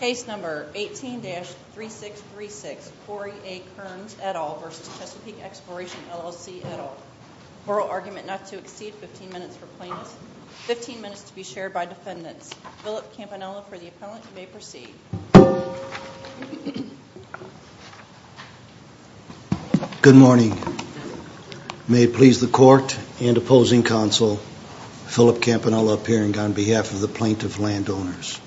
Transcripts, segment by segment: Case number 18-3636 Corey A. Kerns, et al. v. Chesapeake Exploration LLC, et al. Oral argument not to exceed 15 minutes for plaintiffs. 15 minutes to be shared by defendants. Philip Campanella for the appellant. You may proceed. Good morning. May it please the court and opposing counsel, Philip Campanella appearing on behalf of the plaintiff landowners.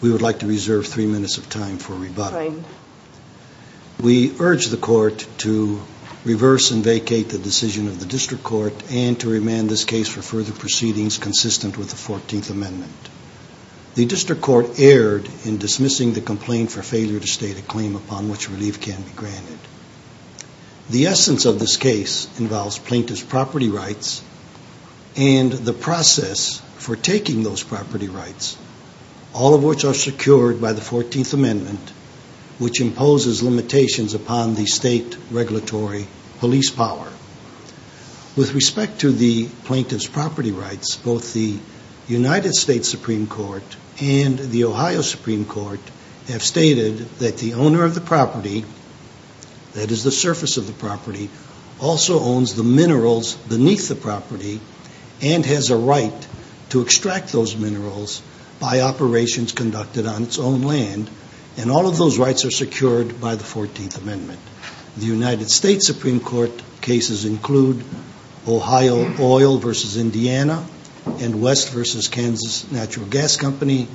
We would like to reserve three minutes of time for rebuttal. We urge the court to reverse and vacate the decision of the district court and to remand this case for further proceedings consistent with the 14th Amendment. The district court erred in dismissing the complaint for failure to state a claim upon which relief can be granted. The essence of this case involves plaintiff's property rights and the process for taking those property rights, all of which are secured by the 14th Amendment, which imposes limitations upon the state regulatory police power. With respect to the plaintiff's property rights, both the United States Supreme Court and the Ohio Supreme Court have stated that the owner of the property, that is the surface of the property, also owns the minerals beneath the property and has a right to extract those minerals by operations conducted on its own land, and all of those rights are secured by the 14th Amendment. The United States Supreme Court cases include Ohio Oil v. Indiana and West v. Kansas Natural Gas Company.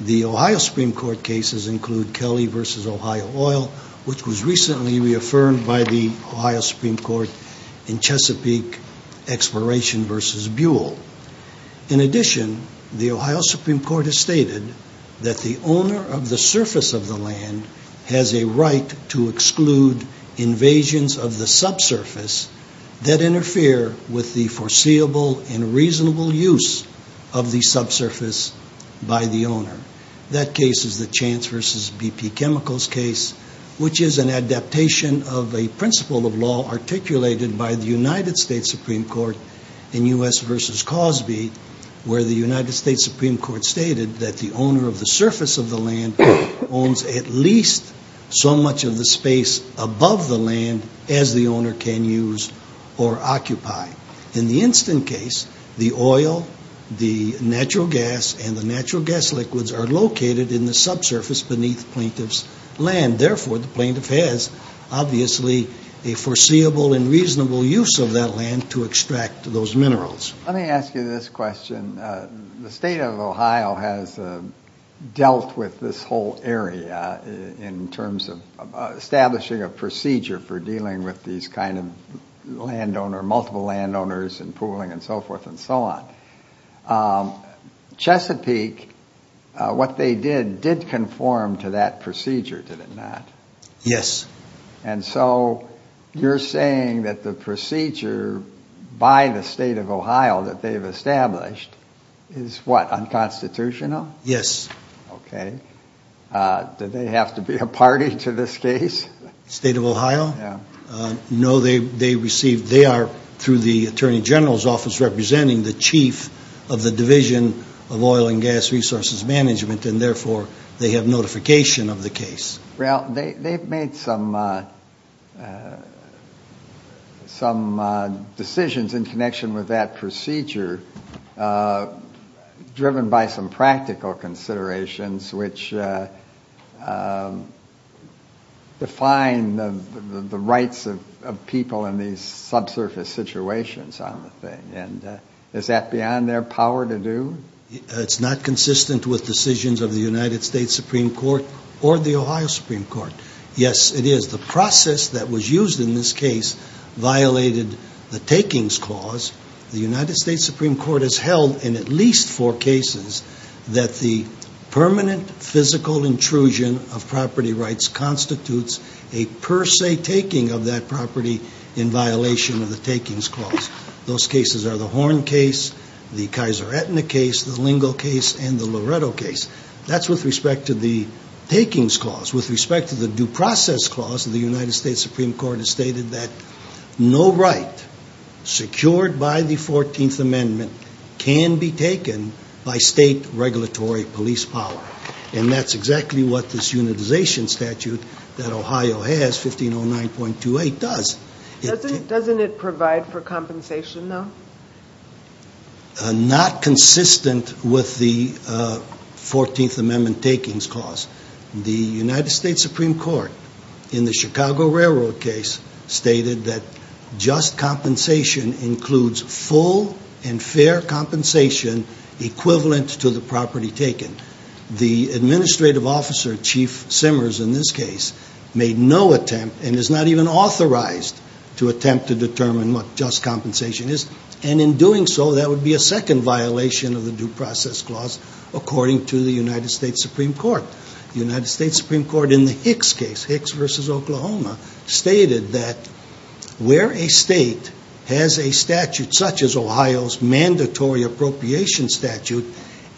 The Ohio Supreme Court cases include Kelly v. Ohio Oil, which was recently reaffirmed by the Ohio Supreme Court in Chesapeake Exploration v. Buell. In addition, the Ohio Supreme Court has stated that the owner of the surface of the land has a right to exclude invasions of the subsurface that interfere with the foreseeable and reasonable use of the subsurface by the owner. That case is the Chance v. BP Chemicals case, which is an adaptation of a principle of law articulated by the United States Supreme Court in U.S. v. Cosby, where the United States Supreme Court stated that the owner of the surface of the land owns at least so much of the space above the land as the owner can use or occupy. In the instant case, the oil, the natural gas, and the natural gas liquids are located in the subsurface beneath plaintiff's land. Therefore, the plaintiff has, obviously, a foreseeable and reasonable use of that land to extract those minerals. Let me ask you this question. The state of Ohio has dealt with this whole area in terms of establishing a procedure for dealing with these kind of landowners, multiple landowners, and pooling and so forth and so on. Chesapeake, what they did, did conform to that procedure, did it not? Yes. And so you're saying that the procedure by the state of Ohio that they've established is, what, unconstitutional? Yes. Okay. Did they have to be a party to this case? State of Ohio? Yeah. No, they received, they are, through the Attorney General's Office, representing the chief of the Division of Oil and Gas Resources Management, and therefore they have notification of the case. Well, they've made some decisions in connection with that procedure driven by some practical considerations which define the rights of people in these subsurface situations on the thing. And is that beyond their power to do? It's not consistent with decisions of the United States Supreme Court or the Ohio Supreme Court. Yes, it is. The process that was used in this case violated the takings clause. The United States Supreme Court has held in at least four cases that the permanent physical intrusion of property rights constitutes a per se taking of that property in violation of the takings clause. Those cases are the Horn case, the Kaiser-Aetna case, the Lingo case, and the Loretto case. That's with respect to the takings clause. With respect to the due process clause, the United States Supreme Court has stated that no right secured by the 14th Amendment can be taken by state regulatory police power, and that's exactly what this unitization statute that Ohio has, 1509.28, does. Doesn't it provide for compensation, though? Not consistent with the 14th Amendment takings clause. The United States Supreme Court in the Chicago Railroad case stated that just compensation includes full and fair compensation equivalent to the property taken. The administrative officer, Chief Simmers, in this case, made no attempt and is not even authorized to attempt to determine what just compensation is, and in doing so, that would be a second violation of the due process clause according to the United States Supreme Court. The United States Supreme Court in the Hicks case, Hicks v. Oklahoma, stated that where a state has a statute such as Ohio's mandatory appropriation statute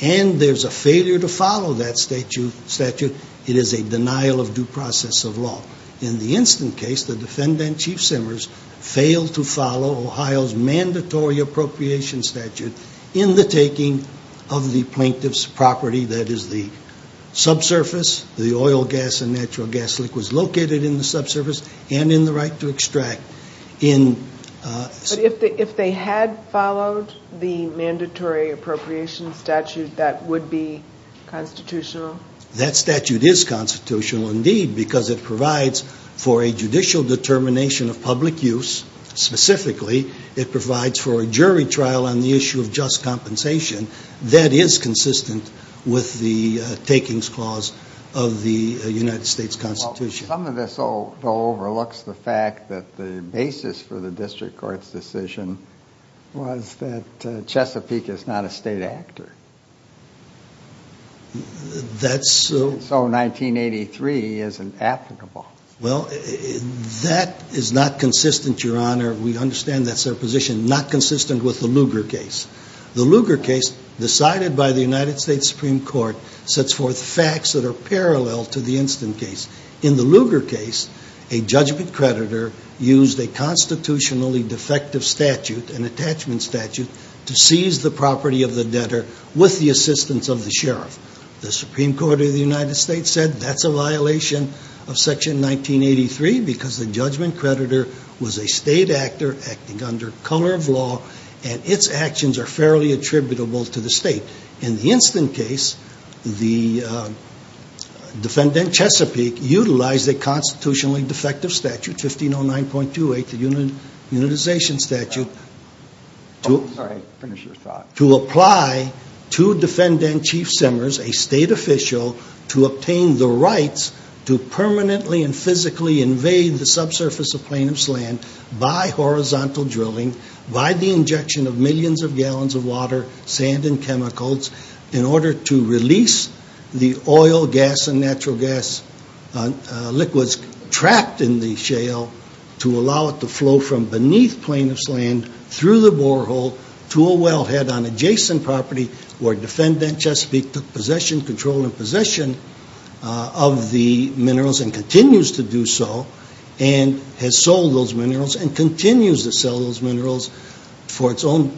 and there's a failure to follow that statute, it is a denial of due process of law. In the instant case, the defendant, Chief Simmers, failed to follow Ohio's mandatory appropriation statute in the taking of the plaintiff's property, that is, the subsurface, the oil, gas, and natural gas liquids located in the subsurface, and in the right to extract. But if they had followed the mandatory appropriation statute, that would be constitutional? That statute is constitutional, indeed, because it provides for a judicial determination of public use. Specifically, it provides for a jury trial on the issue of just compensation that is consistent with the takings clause of the United States Constitution. Some of this, though, overlooks the fact that the basis for the district court's decision was that Chesapeake is not a state actor. That's so. So 1983 isn't applicable. Well, that is not consistent, Your Honor. We understand that's their position. Not consistent with the Lugar case. The Lugar case, decided by the United States Supreme Court, sets forth facts that are parallel to the instant case. In the Lugar case, a judgment creditor used a constitutionally defective statute, an attachment statute, to seize the property of the debtor with the assistance of the sheriff. The Supreme Court of the United States said that's a violation of Section 1983 because the judgment creditor was a state actor acting under color of law and its actions are fairly attributable to the state. In the instant case, the defendant, Chesapeake, utilized a constitutionally defective statute, 1509.28, the unitization statute, to apply to defendant Chief Simmers, a state official, to obtain the rights to permanently and physically invade the subsurface of Plainham's Land by horizontal drilling, by the injection of millions of gallons of water, sand, and chemicals in order to release the oil, gas, and natural gas liquids trapped in the shale to allow it to flow from beneath Plainham's Land through the borehole to a wellhead on adjacent property where defendant Chesapeake took possession, control, and possession of the minerals and continues to do so and has sold those minerals and continues to sell those minerals for its own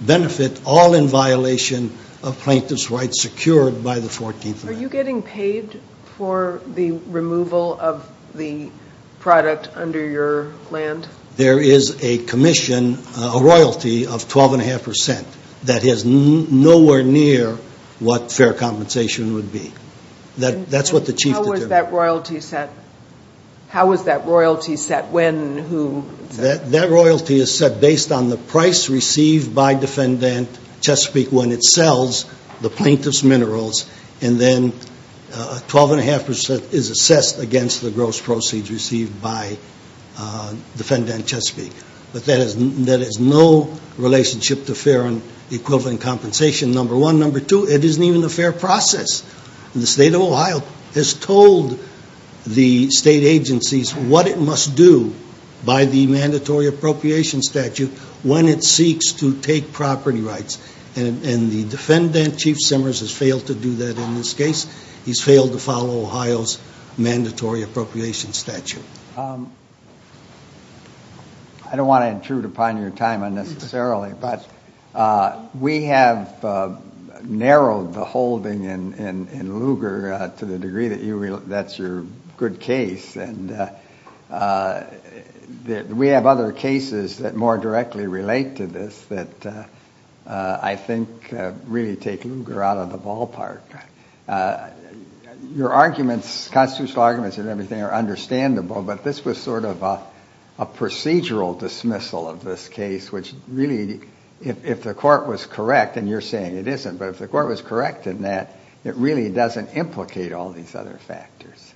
benefit, all in violation of Plaintiff's rights secured by the 14th Amendment. Are you getting paid for the removal of the product under your land? There is a commission, a royalty of 12.5% that is nowhere near what fair compensation would be. That's what the Chief determined. How was that royalty set? How was that royalty set? When? Who? That royalty is set based on the price received by defendant Chesapeake when it sells the plaintiff's minerals, and then 12.5% is assessed against the gross proceeds received by defendant Chesapeake. But that has no relationship to fair and equivalent compensation, number one. Number two, it isn't even a fair process. The State of Ohio has told the state agencies what it must do by the mandatory appropriation statute when it seeks to take property rights. And the defendant, Chief Simmers, has failed to do that in this case. He's failed to follow Ohio's mandatory appropriation statute. I don't want to intrude upon your time unnecessarily, but we have narrowed the holding in Lugar to the degree that that's your good case. And we have other cases that more directly relate to this that I think really take Lugar out of the ballpark. Your arguments, constitutional arguments and everything, are understandable, but this was sort of a procedural dismissal of this case, which really, if the court was correct, and you're saying it isn't, but if the court was correct in that, it really doesn't implicate all these other factors.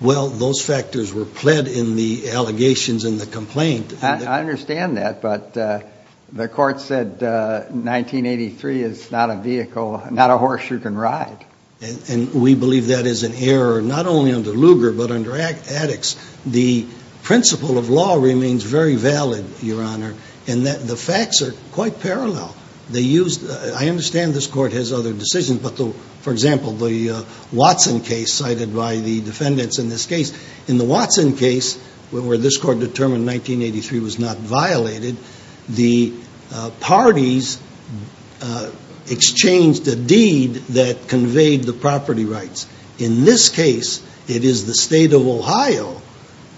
Well, those factors were pled in the allegations in the complaint. I understand that, but the court said 1983 is not a vehicle, not a horse you can ride. And we believe that is an error, not only under Lugar, but under Addix. The principle of law remains very valid, Your Honor, in that the facts are quite parallel. I understand this court has other decisions, but, for example, the Watson case cited by the defendants in this case, in the Watson case where this court determined 1983 was not violated, the parties exchanged a deed that conveyed the property rights. In this case, it is the State of Ohio,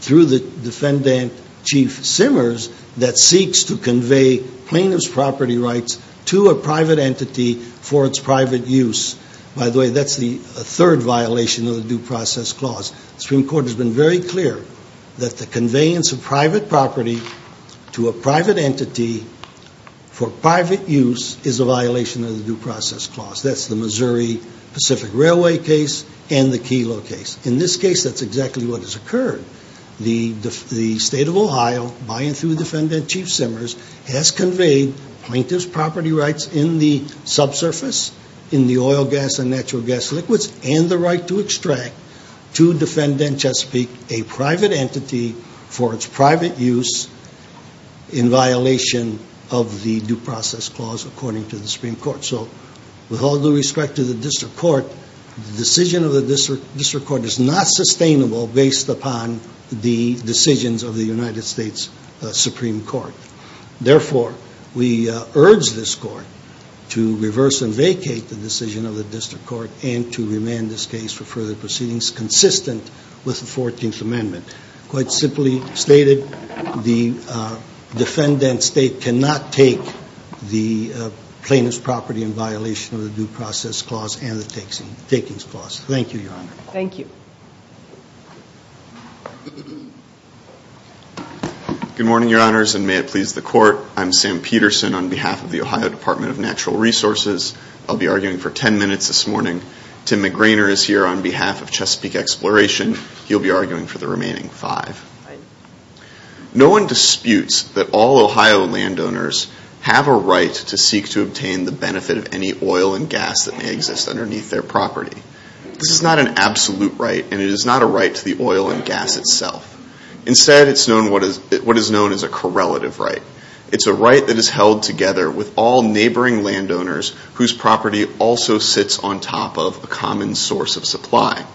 through the defendant, Chief Simmers, that seeks to convey plaintiff's property rights to a private entity for its private use. By the way, that's the third violation of the Due Process Clause. The Supreme Court has been very clear that the conveyance of private property to a private entity for private use is a violation of the Due Process Clause. That's the Missouri Pacific Railway case and the Kelo case. In this case, that's exactly what has occurred. The State of Ohio, by and through the defendant, Chief Simmers, has conveyed plaintiff's property rights in the subsurface, in the oil, gas, and natural gas liquids, and the right to extract to defendant Chesapeake a private entity for its private use in violation of the Due Process Clause, according to the Supreme Court. So, with all due respect to the District Court, the decision of the District Court is not sustainable based upon the decisions of the United States Supreme Court. Therefore, we urge this Court to reverse and vacate the decision of the District Court and to remand this case for further proceedings consistent with the 14th Amendment. Quite simply stated, the defendant State cannot take the plaintiff's property in violation of the Due Process Clause and the Takings Clause. Thank you, Your Honor. Thank you. Good morning, Your Honors, and may it please the Court. I'm Sam Peterson on behalf of the Ohio Department of Natural Resources. I'll be arguing for 10 minutes this morning. Tim McGrainer is here on behalf of Chesapeake Exploration. He'll be arguing for the remaining five. No one disputes that all Ohio landowners have a right to seek to obtain the benefit of any oil and gas that may exist underneath their property. This is not an absolute right, and it is not a right to the oil and gas itself. Instead, it's what is known as a correlative right. It's a right that is held together with all neighboring landowners whose property also sits on top of a common source of supply.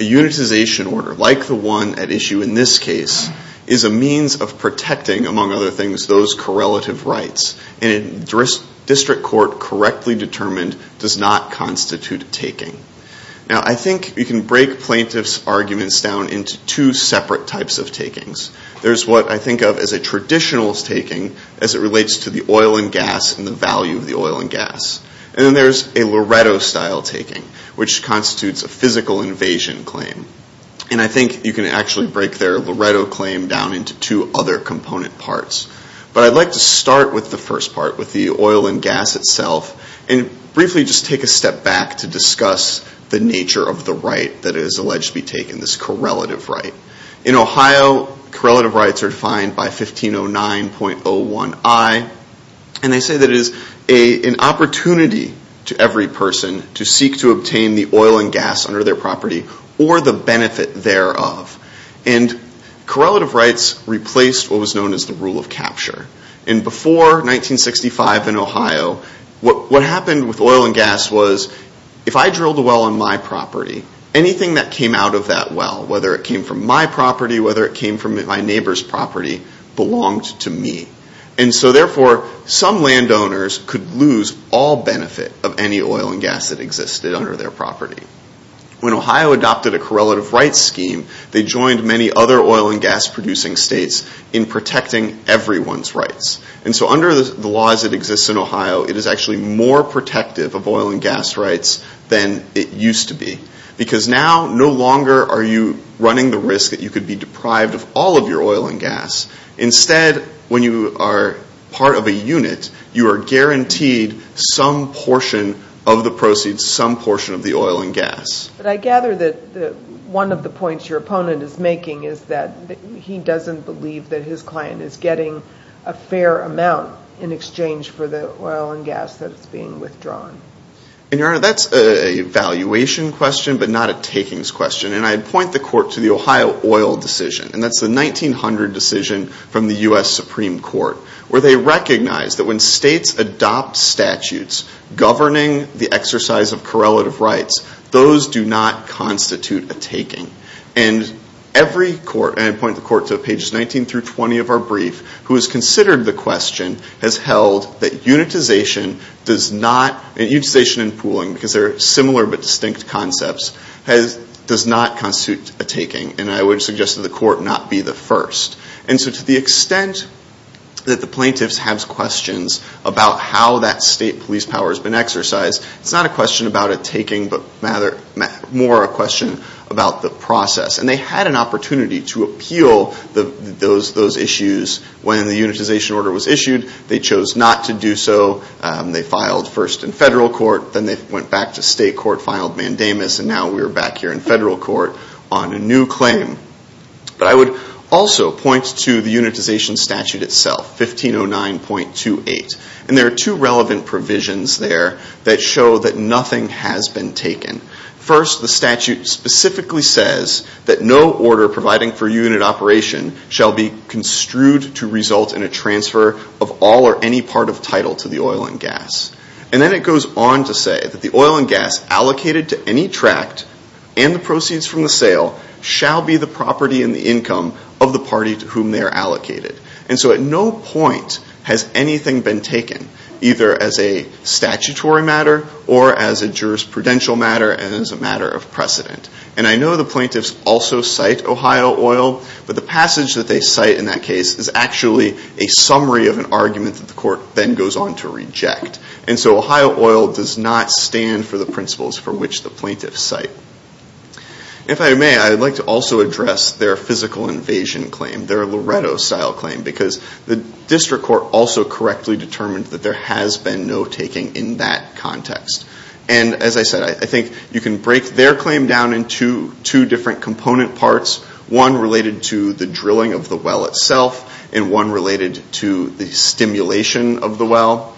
A unitization order, like the one at issue in this case, is a means of protecting, among other things, those correlative rights, and a district court correctly determined does not constitute taking. Now, I think you can break plaintiff's arguments down into two separate types of takings. There's what I think of as a traditional taking as it relates to the oil and gas and the value of the oil and gas. And then there's a Loretto-style taking, which constitutes a physical invasion claim. And I think you can actually break their Loretto claim down into two other component parts. But I'd like to start with the first part, with the oil and gas itself, and briefly just take a step back to discuss the nature of the right that is alleged to be taken, this correlative right. In Ohio, correlative rights are defined by 1509.01i, and they say that it is an opportunity to every person to seek to obtain the oil and gas under their property or the benefit thereof. And correlative rights replaced what was known as the rule of capture. And before 1965 in Ohio, what happened with oil and gas was, if I drilled a well on my property, anything that came out of that well, whether it came from my property, whether it came from my neighbor's property, belonged to me. And so therefore, some landowners could lose all benefit of any oil and gas that existed under their property. When Ohio adopted a correlative rights scheme, they joined many other oil and gas producing states in protecting everyone's rights. And so under the laws that exist in Ohio, it is actually more protective of oil and gas rights than it used to be. Because now, no longer are you running the risk that you could be deprived of all of your oil and gas. Instead, when you are part of a unit, you are guaranteed some portion of the proceeds, some portion of the oil and gas. But I gather that one of the points your opponent is making is that he doesn't believe that his client is getting a fair amount in exchange for the oil and gas that is being withdrawn. And, Your Honor, that's a valuation question but not a takings question. And I point the court to the Ohio oil decision. And that's the 1900 decision from the U.S. Supreme Court where they recognized that when states adopt statutes governing the exercise of correlative rights, those do not constitute a taking. And every court, and I point the court to pages 19 through 20 of our brief, who has considered the question, has held that unitization and pooling, because they are similar but distinct concepts, does not constitute a taking. And I would suggest that the court not be the first. And so to the extent that the plaintiffs have questions about how that state police power has been exercised, it's not a question about a taking but more a question about the process. And they had an opportunity to appeal those issues when the unitization order was issued. They chose not to do so. They filed first in federal court. Then they went back to state court, filed mandamus, and now we're back here in federal court on a new claim. But I would also point to the unitization statute itself, 1509.28. And there are two relevant provisions there that show that nothing has been taken. First, the statute specifically says that no order providing for unit operation shall be construed to result in a transfer of all or any part of title to the oil and gas. And then it goes on to say that the oil and gas allocated to any tract and the proceeds from the sale shall be the property and the income of the party to whom they are allocated. And so at no point has anything been taken, either as a statutory matter or as a jurisprudential matter and as a matter of precedent. And I know the plaintiffs also cite Ohio oil, but the passage that they cite in that case is actually a summary of an argument that the court then goes on to reject. And so Ohio oil does not stand for the principles for which the plaintiffs cite. If I may, I'd like to also address their physical invasion claim, their Loretto-style claim, because the district court also correctly determined that there has been no taking in that context. And as I said, I think you can break their claim down into two different component parts, one related to the drilling of the well itself and one related to the stimulation of the well.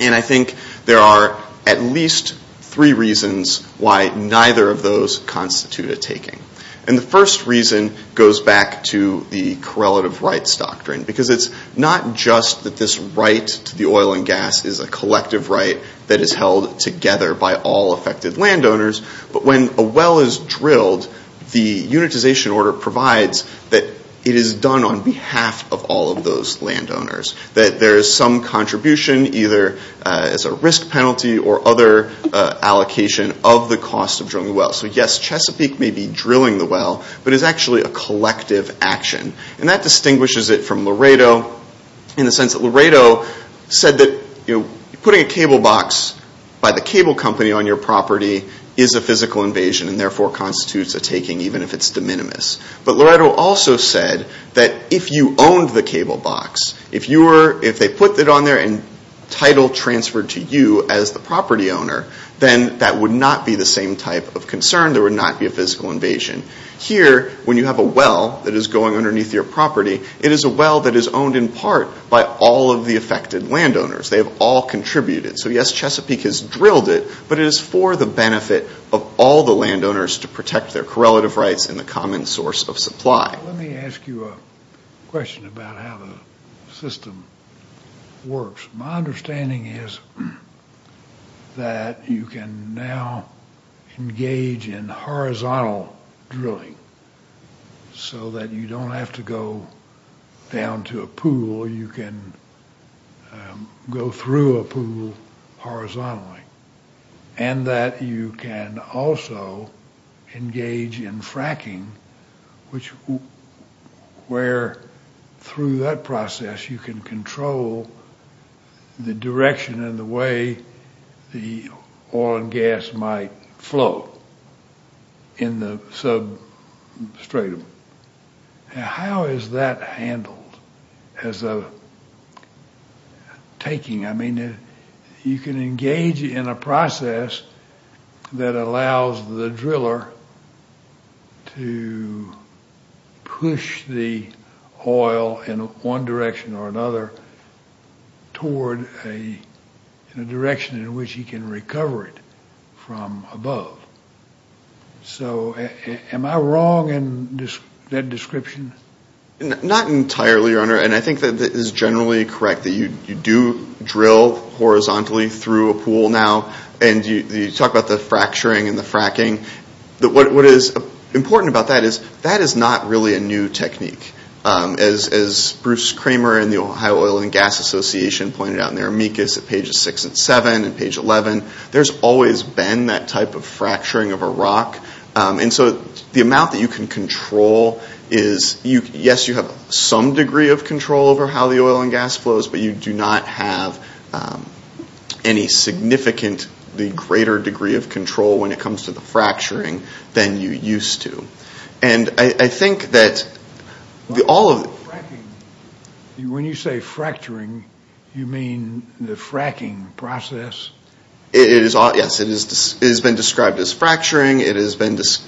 And I think there are at least three reasons why neither of those constitute a taking. And the first reason goes back to the correlative rights doctrine, because it's not just that this right to the oil and gas is a collective right that is held together by all affected landowners, but when a well is drilled, the unitization order provides that it is done on behalf of all of those landowners, that there is some contribution, either as a risk penalty or other allocation, of the cost of drilling the well. So yes, Chesapeake may be drilling the well, but it's actually a collective action. And that distinguishes it from Loretto in the sense that Loretto said that putting a cable box by the cable company on your property is a physical invasion and therefore constitutes a taking, even if it's de minimis. But Loretto also said that if you owned the cable box, if they put it on there and title transferred to you as the property owner, then that would not be the same type of concern. There would not be a physical invasion. Here, when you have a well that is going underneath your property, it is a well that is owned in part by all of the affected landowners. They have all contributed. So yes, Chesapeake has drilled it, but it is for the benefit of all the landowners to protect their correlative rights and the common source of supply. Let me ask you a question about how the system works. My understanding is that you can now engage in horizontal drilling so that you don't have to go down to a pool. You can go through a pool horizontally. And that you can also engage in fracking, where through that process you can control the direction and the way the oil and gas might flow in the substratum. How is that handled as a taking? I mean, you can engage in a process that allows the driller to push the oil in one direction or another toward a direction in which he can recover it from above. So am I wrong in that description? Not entirely, Your Honor, and I think that is generally correct, that you do drill horizontally through a pool now and you talk about the fracturing and the fracking. What is important about that is that is not really a new technique. As Bruce Kramer in the Ohio Oil and Gas Association pointed out in their amicus at pages 6 and 7 and page 11, there's always been that type of fracturing of a rock. And so the amount that you can control is, yes, you have some degree of control over how the oil and gas flows, but you do not have any significant, the greater degree of control when it comes to the fracturing than you used to. And I think that all of... When you say fracturing, you mean the fracking process? Yes, it has been described as fracturing. It is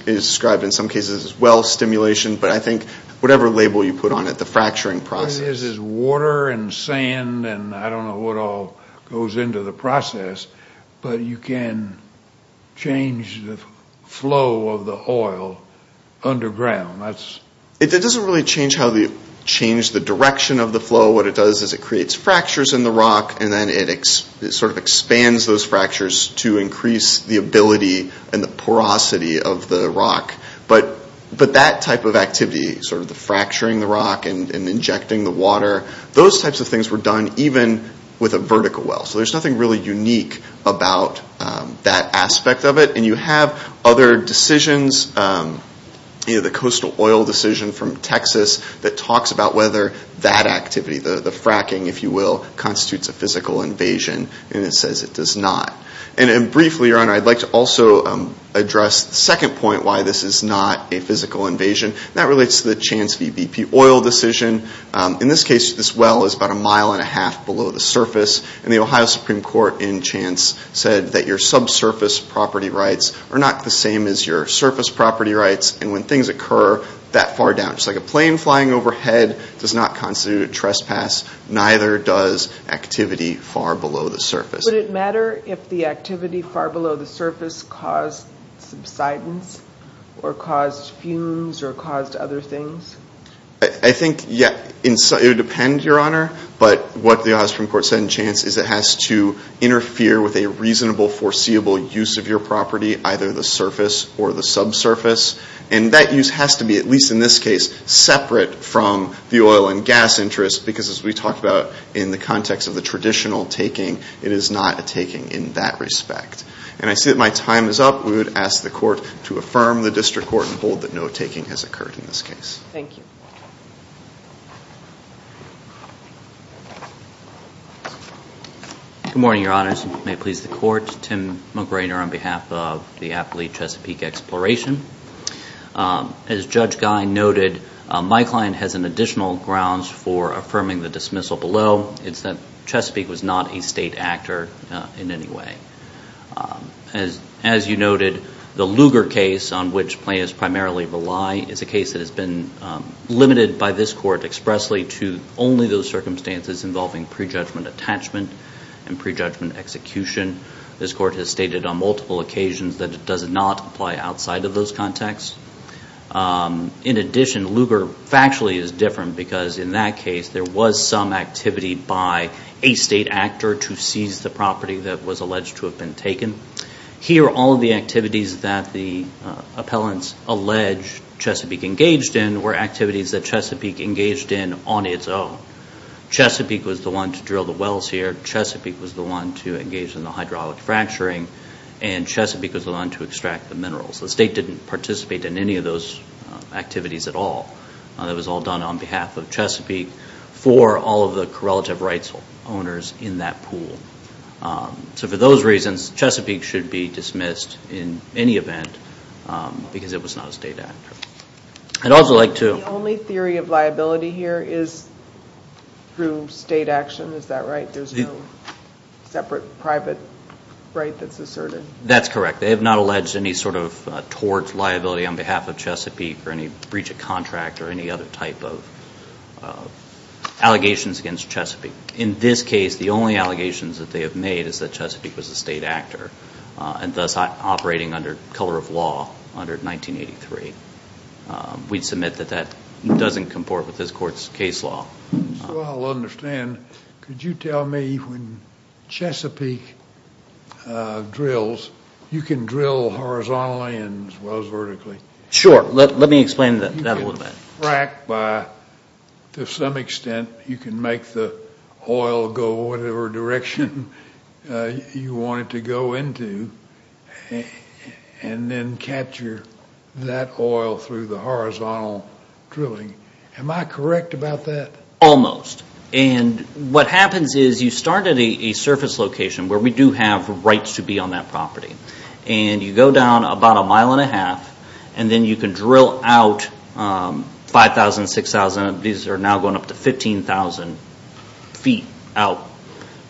described in some cases as well stimulation, but I think whatever label you put on it, the fracturing process. All it is is water and sand and I don't know what all goes into the process, but you can change the flow of the oil underground. It doesn't really change the direction of the flow. What it does is it creates fractures in the rock and then it sort of expands those fractures to increase the ability and the porosity of the rock. Those types of things were done even with a vertical well. So there's nothing really unique about that aspect of it. And you have other decisions, the coastal oil decision from Texas that talks about whether that activity, the fracking, if you will, constitutes a physical invasion and it says it does not. And briefly, Your Honor, I'd like to also address the second point why this is not a physical invasion. That relates to the Chance v. BP oil decision. In this case, this well is about a mile and a half below the surface and the Ohio Supreme Court in Chance said that your subsurface property rights are not the same as your surface property rights and when things occur that far down, just like a plane flying overhead does not constitute a trespass, neither does activity far below the surface. Would it matter if the activity far below the surface caused subsidence or caused fumes or caused other things? I think it would depend, Your Honor. But what the Ohio Supreme Court said in Chance is it has to interfere with a reasonable foreseeable use of your property, either the surface or the subsurface. And that use has to be, at least in this case, separate from the oil and gas interest because as we talked about in the context of the traditional taking, it is not a taking in that respect. And I see that my time is up. We would ask the Court to affirm the District Court and hold that no taking has occurred in this case. Thank you. Good morning, Your Honors. May it please the Court. Tim McRainer on behalf of the Appley-Chesapeake Exploration. As Judge Gein noted, my client has an additional grounds for affirming the dismissal below. It's that Chesapeake was not a state actor in any way. As you noted, the Lugar case on which plaintiffs primarily rely is a case that has been limited by this Court expressly to only those circumstances involving prejudgment attachment and prejudgment execution. This Court has stated on multiple occasions that it does not apply outside of those contexts. In addition, Lugar factually is different because in that case, there was some activity by a state actor to seize the property that was alleged to have been taken. Here, all of the activities that the appellants allege Chesapeake engaged in were activities that Chesapeake engaged in on its own. Chesapeake was the one to drill the wells here. Chesapeake was the one to engage in the hydraulic fracturing. And Chesapeake was the one to extract the minerals. The state didn't participate in any of those activities at all. It was all done on behalf of Chesapeake for all of the correlative rights owners in that pool. So for those reasons, Chesapeake should be dismissed in any event because it was not a state actor. I'd also like to... The only theory of liability here is through state action, is that right? There's no separate private right that's asserted? That's correct. They have not alleged any sort of tort liability on behalf of Chesapeake or any breach of contract or any other type of allegations against Chesapeake. In this case, the only allegations that they have made is that Chesapeake was a state actor and thus operating under color of law under 1983. We'd submit that that doesn't comport with this Court's case law. So I'll understand. Could you tell me when Chesapeake drills, you can drill horizontally as well as vertically? Sure. Let me explain that a little bit. To some extent, you can make the oil go whatever direction you want it to go into and then capture that oil through the horizontal drilling. Am I correct about that? Almost. And what happens is you start at a surface location where we do have rights to be on that property and you go down about a mile and a half and then you can drill out 5,000, 6,000. These are now going up to 15,000 feet out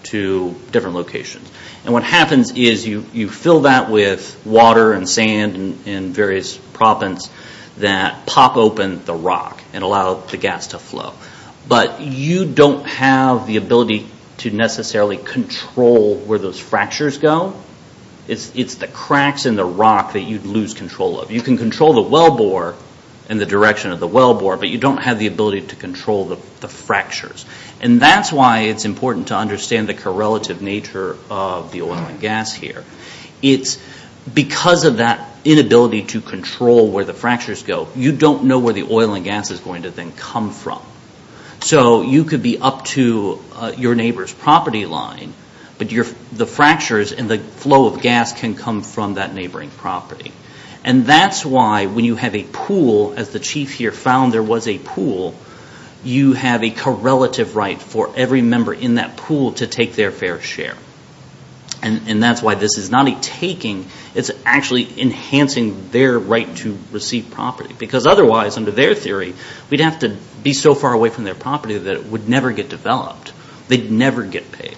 to different locations. And what happens is you fill that with water and sand and various propens that pop open the rock and allow the gas to flow. But you don't have the ability to necessarily control where those fractures go. It's the cracks in the rock that you lose control of. You can control the wellbore and the direction of the wellbore, but you don't have the ability to control the fractures. And that's why it's important to understand the correlative nature of the oil and gas here. It's because of that inability to control where the fractures go, you don't know where the oil and gas is going to then come from. So you could be up to your neighbor's property line, but the fractures and the flow of gas can come from that neighboring property. And that's why when you have a pool, as the chief here found there was a pool, you have a correlative right for every member in that pool to take their fair share. And that's why this is not a taking. It's actually enhancing their right to receive property. Because otherwise, under their theory, we'd have to be so far away from their property that it would never get developed. They'd never get paid.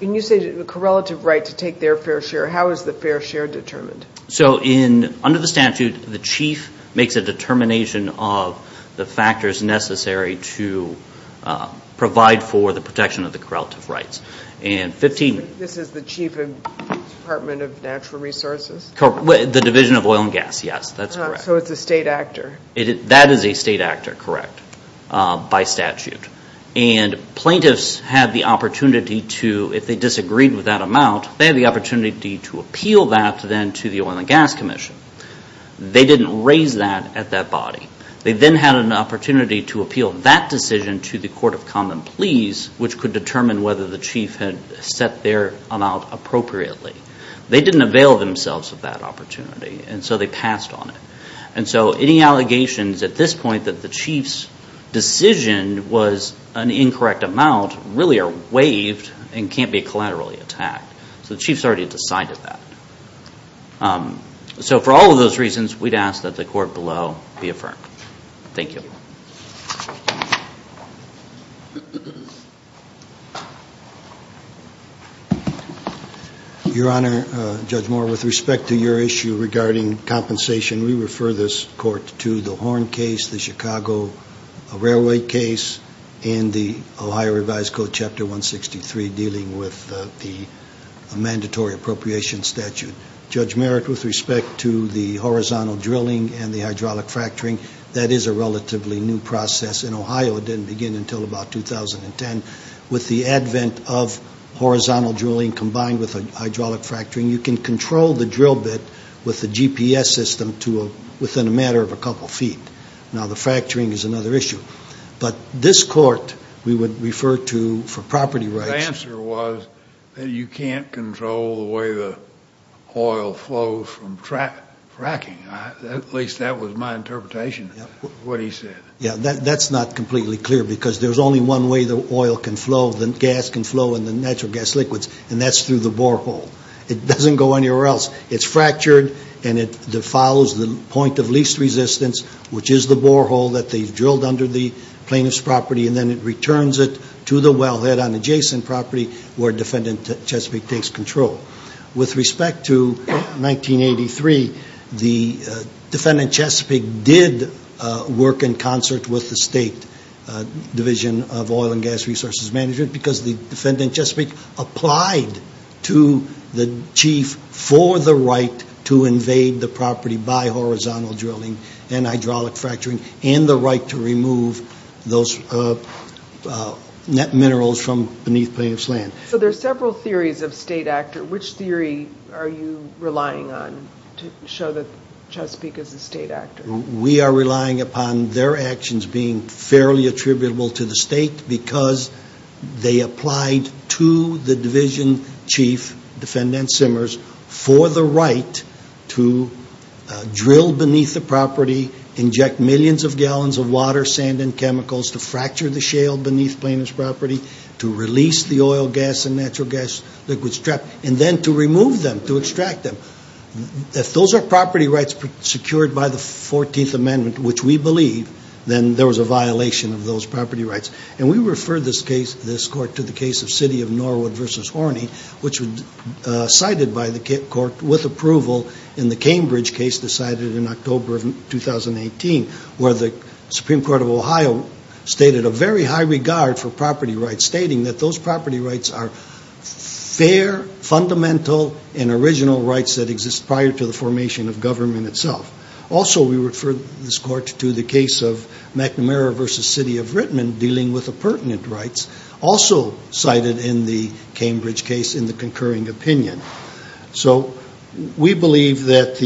When you say the correlative right to take their fair share, how is the fair share determined? So under the statute, the chief makes a determination of the factors necessary to provide for the protection of the correlative rights. This is the chief of the Department of Natural Resources? The Division of Oil and Gas, yes, that's correct. So it's a state actor? That is a state actor, correct, by statute. And plaintiffs had the opportunity to, if they disagreed with that amount, they had the opportunity to appeal that then to the Oil and Gas Commission. They didn't raise that at that body. They then had an opportunity to appeal that decision to the Court of Common Pleas, which could determine whether the chief had set their amount appropriately. They didn't avail themselves of that opportunity, and so they passed on it. And so any allegations at this point that the chief's decision was an incorrect amount really are waived and can't be collaterally attacked. So the chief's already decided that. So for all of those reasons, we'd ask that the court below be affirmed. Thank you. Your Honor, Judge Moore, with respect to your issue regarding compensation, we refer this court to the Horn case, the Chicago Railway case, and the Ohio Revised Code, Chapter 163, dealing with the mandatory appropriation statute. Judge Merrick, with respect to the horizontal drilling and the hydraulic fracturing, that is a relatively new process in Ohio. It didn't begin until about 2010. With the advent of horizontal drilling combined with hydraulic fracturing, you can control the drill bit with the GPS system within a matter of a couple feet. Now, the fracturing is another issue. But this court we would refer to for property rights. The answer was that you can't control the way the oil flows from fracking. At least that was my interpretation of what he said. Yeah, that's not completely clear because there's only one way the oil can flow, the gas can flow in the natural gas liquids, and that's through the borehole. It doesn't go anywhere else. It's fractured and it follows the point of least resistance, which is the borehole that they've drilled under the plaintiff's property, and then it returns it to the wellhead on adjacent property where Defendant Chesapeake takes control. With respect to 1983, the Defendant Chesapeake did work in concert with the State Division of Oil and Gas Resources Management because the Defendant Chesapeake applied to the chief for the right to invade the property by horizontal drilling and hydraulic fracturing and the right to remove those net minerals from beneath plaintiff's land. So there are several theories of state actor. Which theory are you relying on to show that Chesapeake is a state actor? We are relying upon their actions being fairly attributable to the state because they applied to the division chief, Defendant Simmers, for the right to drill beneath the property, inject millions of gallons of water, sand, and chemicals to fracture the shale beneath plaintiff's property, to release the oil, gas, and natural gas liquids trapped, and then to remove them, to extract them. If those are property rights secured by the 14th Amendment, which we believe, then there was a violation of those property rights. And we refer this case, this court, to the case of City of Norwood v. Horney, which was cited by the court with approval in the Cambridge case decided in October of 2018, where the Supreme Court of Ohio stated a very high regard for property rights, stating that those property rights are fair, fundamental, and original rights that exist prior to the formation of government itself. Also, we refer this court to the case of McNamara v. City of Rittman dealing with appurtenant rights, also cited in the Cambridge case in the concurring opinion. So we believe that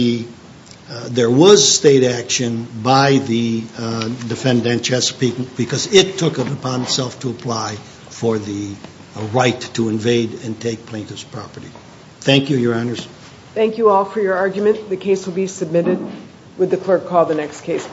there was state action by the Defendant Chesapeake because it took it upon itself to apply for the right to invade and take plaintiff's property. Thank you, Your Honors. Thank you all for your argument. The case will be submitted. Would the clerk call the next case, please?